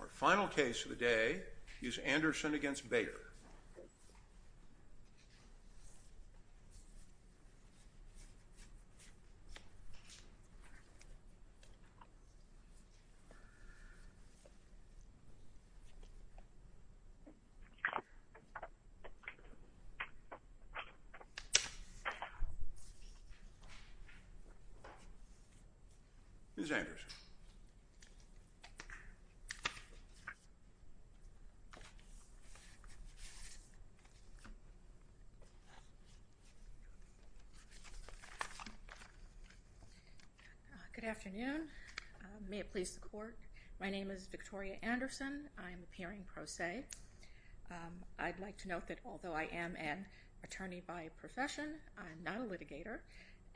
Our final case of the day is Anderson v. Bayer. Mr. Anderson. Good afternoon. May it please the court. My name is Victoria Anderson. I'm appearing pro se. I'd like to note that although I am an attorney by profession, I'm not a litigator.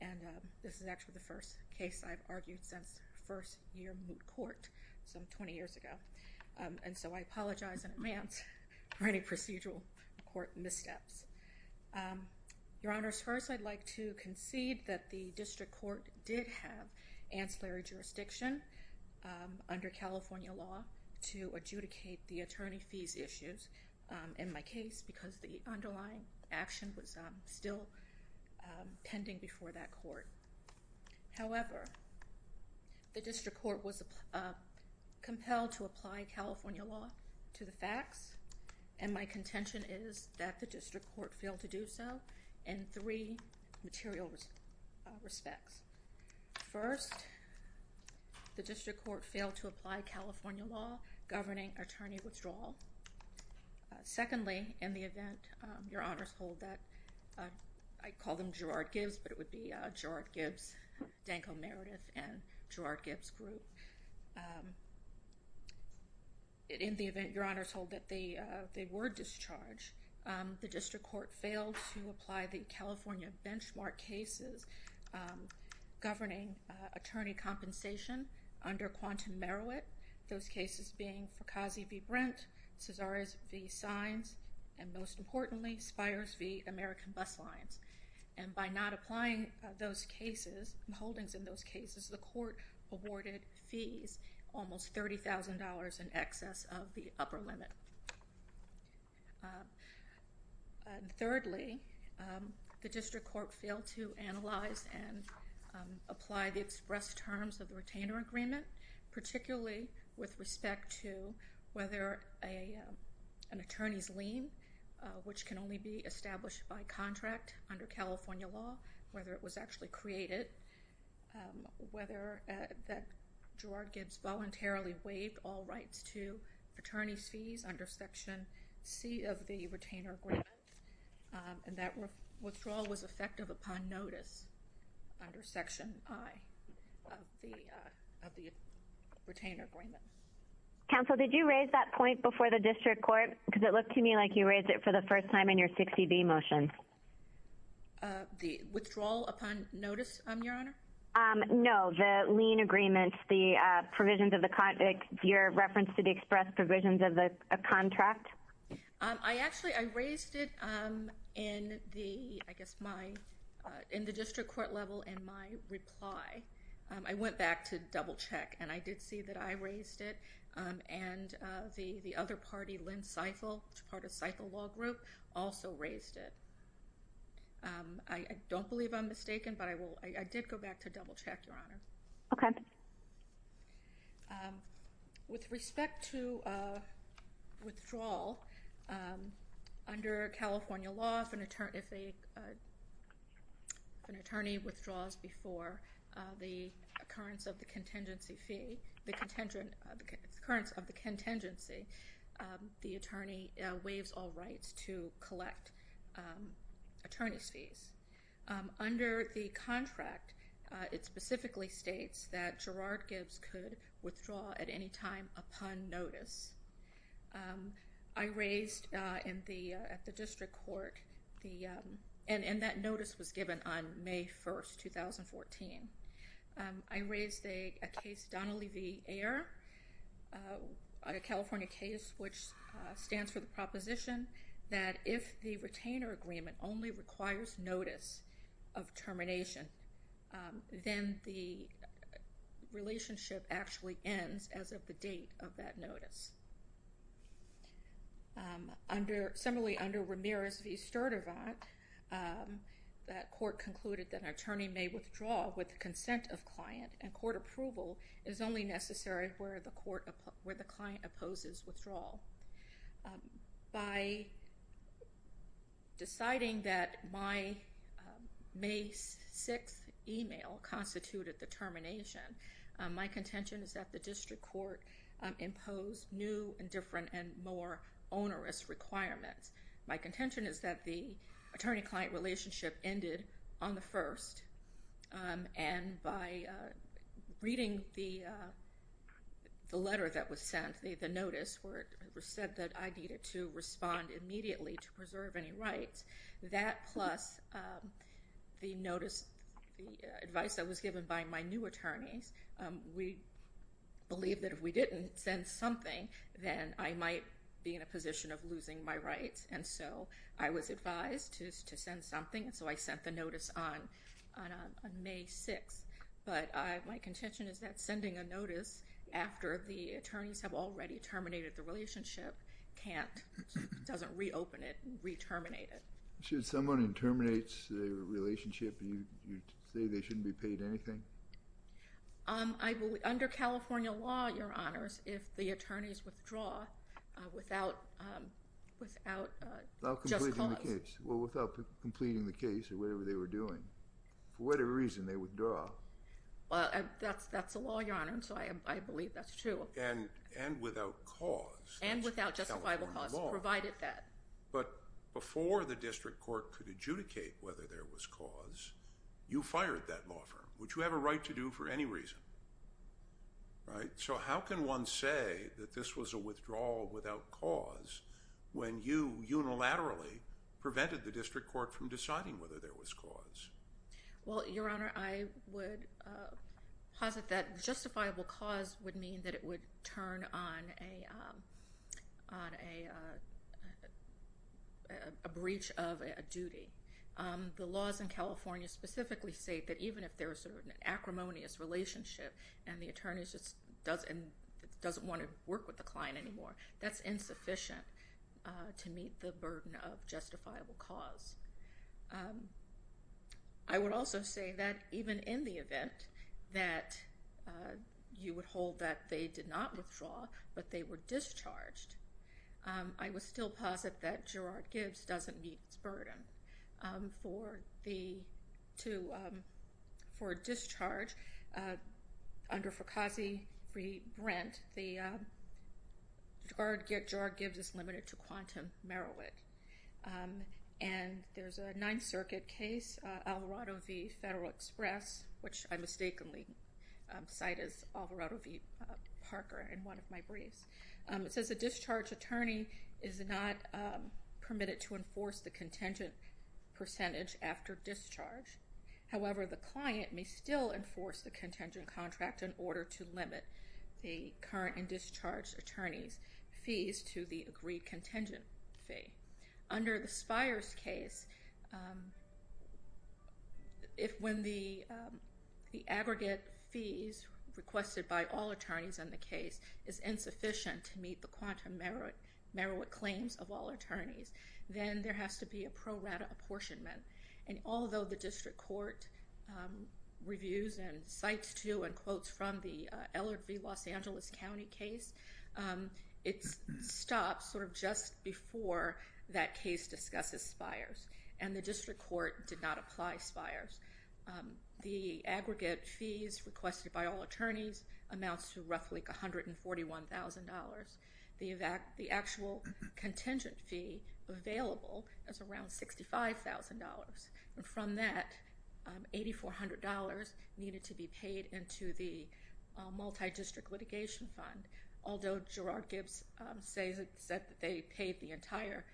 And this is actually the first case I've argued since first year moot court some 20 years ago. And so I apologize in advance for any procedural court missteps. Your honors, first, I'd like to concede that the district court did have ancillary jurisdiction under California law to adjudicate the attorney fees issues in my case, because the underlying action was still pending before that court. However, the district court was compelled to apply California law to the facts. And my contention is that the district court failed to do so in three material respects. First, the district court failed to apply California law governing attorney withdrawal. Secondly, in the event, your honors hold that I call them Gerard Gibbs, but it would be Gerard Gibbs, Danko Meredith and Gerard Gibbs group. In the event, your honors hold that they they were discharged. The district court failed to apply the California benchmark cases governing attorney compensation under quantum merit. Those cases being for Kazi v. Brent, Cesares v. Sines, and most importantly, Spires v. American Bus Lines. And by not applying those cases and holdings in those cases, the court awarded fees, almost $30,000 in excess of the upper limit. Thirdly, the district court failed to analyze and apply the express terms of the retainer agreement, particularly with respect to whether an attorney's lien, which can only be established by contract under California law, whether it was actually created, whether that Gerard Gibbs voluntarily waived all rights to attorney's fees under Section C of the retainer agreement. And that withdrawal was effective upon notice under Section I of the retainer agreement. Counsel, did you raise that point before the district court? Because it looked to me like you raised it for the first time in your 60B motion. The withdrawal upon notice, your honor? No, the lien agreements, the provisions of the contract, your reference to the express provisions of the contract. I actually I raised it in the I guess my in the district court level in my reply. I went back to double check and I did see that I raised it. And the other party, Lynn Seifel, which is part of Seifel Law Group, also raised it. I don't believe I'm mistaken, but I did go back to double check, your honor. Okay. With respect to withdrawal under California law, if an attorney withdraws before the occurrence of the contingency fee, the occurrence of the contingency, the attorney waives all rights to collect attorney's fees. Under the contract, it specifically states that Gerard Gibbs could withdraw at any time upon notice. I raised in the at the district court the and that notice was given on May 1st, 2014. I raised a case, Donnelly v. Ayer, a California case, which stands for the proposition that if the retainer agreement only requires notice of termination, then the relationship actually ends as of the date of that notice. Under similarly under Ramirez v. Sturdivant, that court concluded that an attorney may withdraw with the consent of client and court approval is only necessary where the court where the client opposes withdrawal. By deciding that my May 6th email constituted the termination, my contention is that the district court imposed new and different and more onerous requirements. My contention is that the attorney-client relationship ended on the 1st, and by reading the letter that was sent, the notice where it said that I needed to respond immediately to preserve any rights, that plus the notice, the advice that was given by my new attorneys, we believed that if we didn't send something, then I might be in a position of losing my rights. And so I was advised to send something, and so I sent the notice on May 6th. But my contention is that sending a notice after the attorneys have already terminated the relationship can't, doesn't reopen it, re-terminate it. Should someone who terminates a relationship, you say they shouldn't be paid anything? Under California law, Your Honors, if the attorneys withdraw without just cause. Without completing the case or whatever they were doing. For whatever reason, they withdraw. That's the law, Your Honor, and so I believe that's true. And without cause. And without justifiable cause, provided that. But before the district court could adjudicate whether there was cause, you fired that law firm. Would you have a right to do for any reason? Right? So how can one say that this was a withdrawal without cause when you unilaterally prevented the district court from deciding whether there was cause? Well, Your Honor, I would posit that justifiable cause would mean that it would turn on a breach of a duty. The laws in California specifically say that even if there's an acrimonious relationship and the attorney doesn't want to work with the client anymore, that's insufficient to meet the burden of justifiable cause. I would also say that even in the event that you would hold that they did not withdraw, but they were discharged, I would still posit that Gerard-Gibbs doesn't meet its burden. For a discharge under Foucault v. Brent, Gerard-Gibbs is limited to Quantum, Merowith. And there's a Ninth Circuit case, Alvarado v. Federal Express, which I mistakenly cite as Alvarado v. Parker in one of my briefs. It says a discharge attorney is not permitted to enforce the contingent percentage after discharge. However, the client may still enforce the contingent contract in order to limit the current and discharged attorney's fees to the agreed contingent fee. Under the Spires case, if when the aggregate fees requested by all attorneys in the case is insufficient to meet the Quantum Merowith claims of all attorneys, then there has to be a pro rata apportionment. And although the district court reviews and cites, too, and quotes from the Ellard v. Los Angeles County case, it stops sort of just before that case discusses Spires. And the district court did not apply Spires. The aggregate fees requested by all attorneys amounts to roughly $141,000. The actual contingent fee available is around $65,000. And from that, $8,400 needed to be paid into the multi-district litigation fund. Although Gerard-Gibbs said that they paid the entire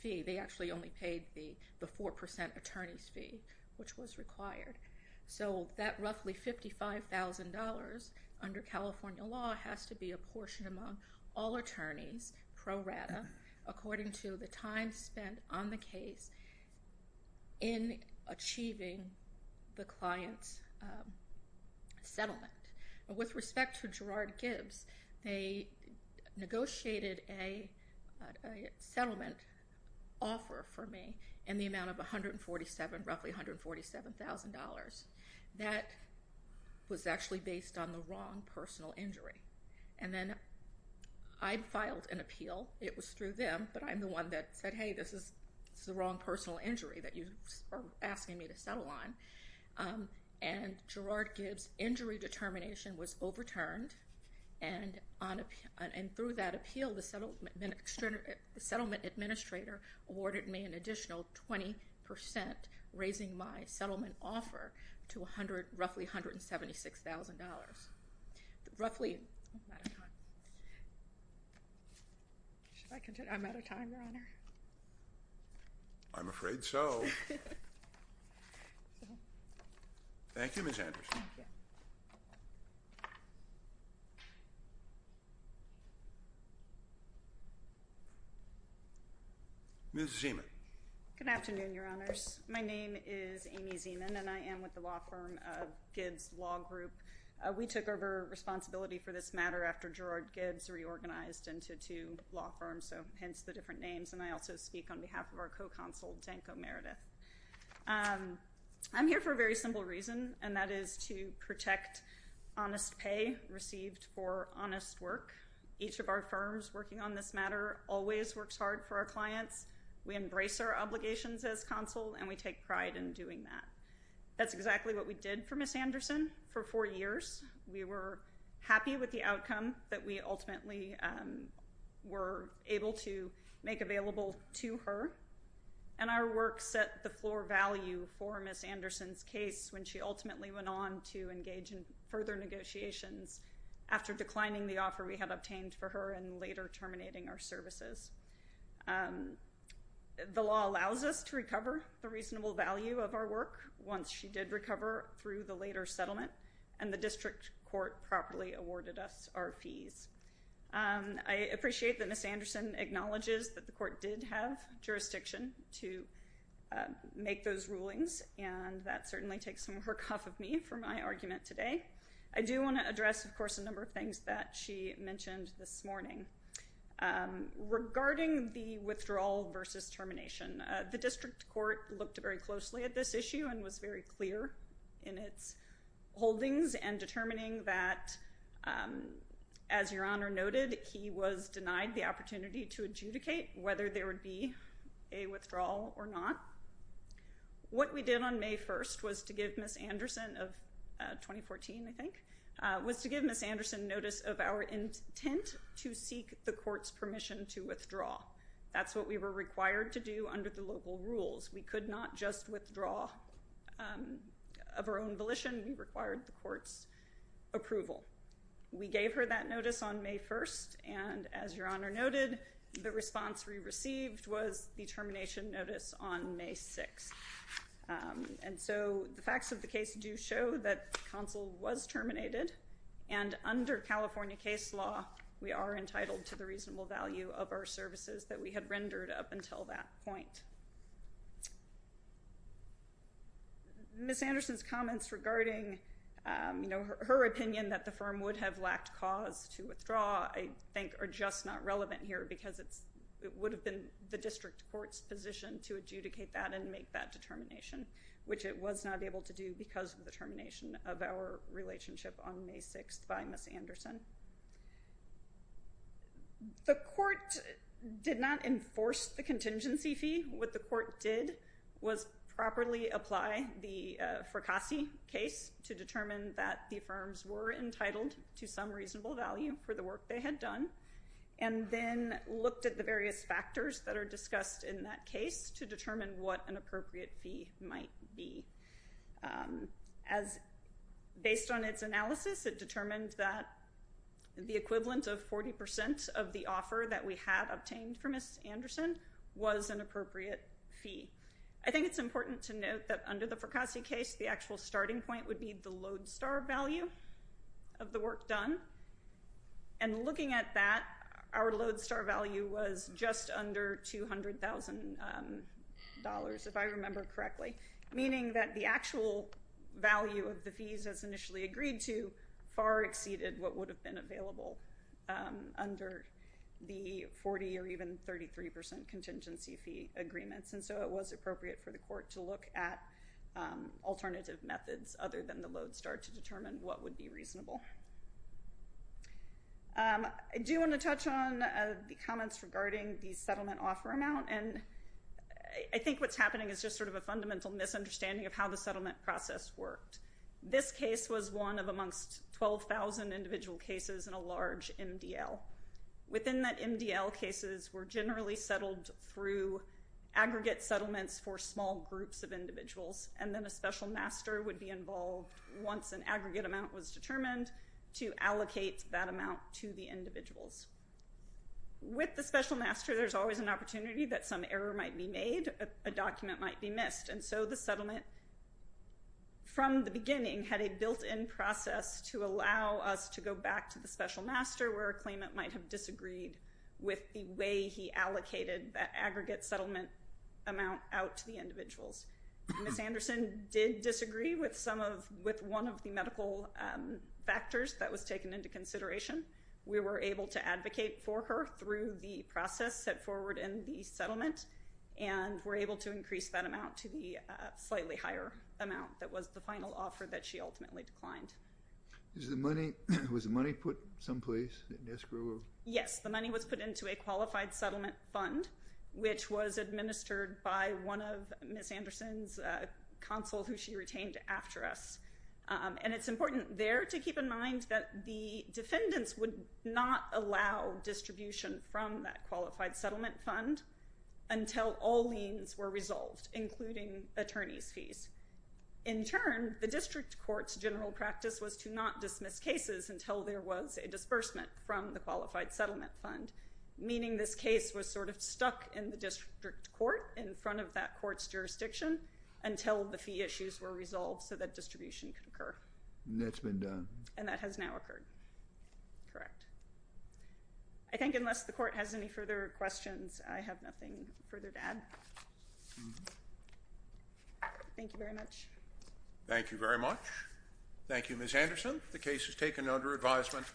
fee, they actually only paid the 4% attorney's fee, which was required. So that roughly $55,000 under California law has to be apportioned among all attorneys pro rata, according to the time spent on the case in achieving the client's settlement. With respect to Gerard-Gibbs, they negotiated a settlement offer for me in the amount of roughly $147,000. That was actually based on the wrong personal injury. And then I filed an appeal. It was through them, but I'm the one that said, hey, this is the wrong personal injury that you are asking me to settle on. And Gerard-Gibbs' injury determination was overturned. And through that appeal, the settlement administrator awarded me an additional 20%, raising my settlement offer to roughly $176,000. Roughly. I'm out of time, Your Honor. I'm afraid so. Thank you, Ms. Anderson. Thank you. Ms. Zeman. Good afternoon, Your Honors. My name is Amy Zeman, and I am with the law firm Gibbs Law Group. We took over responsibility for this matter after Gerard-Gibbs reorganized into two law firms, so hence the different names. And I also speak on behalf of our co-consult, Danko Meredith. I'm here for a very simple reason, and that is to protect honest pay received for honest work. Each of our firms working on this matter always works hard for our clients. We embrace our obligations as consul, and we take pride in doing that. That's exactly what we did for Ms. Anderson for four years. We were happy with the outcome that we ultimately were able to make available to her. And our work set the floor value for Ms. Anderson's case when she ultimately went on to engage in further negotiations after declining the offer we had obtained for her and later terminating our services. The law allows us to recover the reasonable value of our work once she did recover through the later settlement, and the district court properly awarded us our fees. I appreciate that Ms. Anderson acknowledges that the court did have jurisdiction to make those rulings, and that certainly takes some work off of me for my argument today. I do want to address, of course, a number of things that she mentioned this morning. Regarding the withdrawal versus termination, the district court looked very closely at this issue and was very clear in its holdings and determining that, as Your Honor noted, he was denied the opportunity to adjudicate whether there would be a withdrawal or not. What we did on May 1st was to give Ms. Anderson notice of our intent to seek the court's permission to withdraw. That's what we were required to do under the local rules. We could not just withdraw of our own volition. We required the court's approval. We gave her that notice on May 1st, and as Your Honor noted, the response we received was the termination notice on May 6th. And so the facts of the case do show that the council was terminated, and under California case law, we are entitled to the reasonable value of our services that we had rendered up until that point. Ms. Anderson's comments regarding her opinion that the firm would have lacked cause to withdraw, I think, are just not relevant here because it would have been the district court's position to adjudicate that and make that determination, which it was not able to do because of the termination of our relationship on May 6th by Ms. Anderson. The court did not enforce the contingency fee. What the court did was properly apply the Fracassi case to determine that the firms were entitled to some reasonable value for the work they had done, and then looked at the various factors that are discussed in that case to determine what an appropriate fee might be. Based on its analysis, it determined that the equivalent of 40% of the offer that we had obtained for Ms. Anderson was an appropriate fee. I think it's important to note that under the Fracassi case, the actual starting point would be the load star value of the work done, and looking at that, our load star value was just under $200,000, if I remember correctly, meaning that the actual value of the fees as initially agreed to far exceeded what would have been available under the 40% or even 33% contingency fee agreements, and so it was appropriate for the court to look at alternative methods other than the load star to determine what would be reasonable. I do want to touch on the comments regarding the settlement offer amount, and I think what's happening is just sort of a fundamental misunderstanding of how the settlement process worked. This case was one of amongst 12,000 individual cases in a large MDL. Within that MDL, cases were generally settled through aggregate settlements for small groups of individuals, and then a special master would be involved once an aggregate amount was determined to allocate that amount to the individuals. With the special master, there's always an opportunity that some error might be made, a document might be missed, and so the settlement from the beginning had a built-in process to allow us to go back to the special master where a claimant might have disagreed with the way he allocated that aggregate settlement amount out to the individuals. Ms. Anderson did disagree with one of the medical factors that was taken into consideration. We were able to advocate for her through the process set forward in the settlement, and were able to increase that amount to the slightly higher amount that was the final offer that she ultimately declined. Was the money put someplace? Yes, the money was put into a qualified settlement fund, which was administered by one of Ms. Anderson's counsel who she retained after us, and it's important there to keep in mind that the defendants would not allow distribution from that qualified settlement fund until all liens were resolved, including attorney's fees. In turn, the district court's general practice was to not dismiss cases until there was a disbursement from the qualified settlement fund, meaning this case was sort of stuck in the district court in front of that court's jurisdiction until the fee issues were resolved so that distribution could occur. And that's been done. And that has now occurred. Correct. I think unless the court has any further questions, I have nothing further to add. Thank you very much. Thank you very much. Thank you, Ms. Anderson. The case is taken under advisement.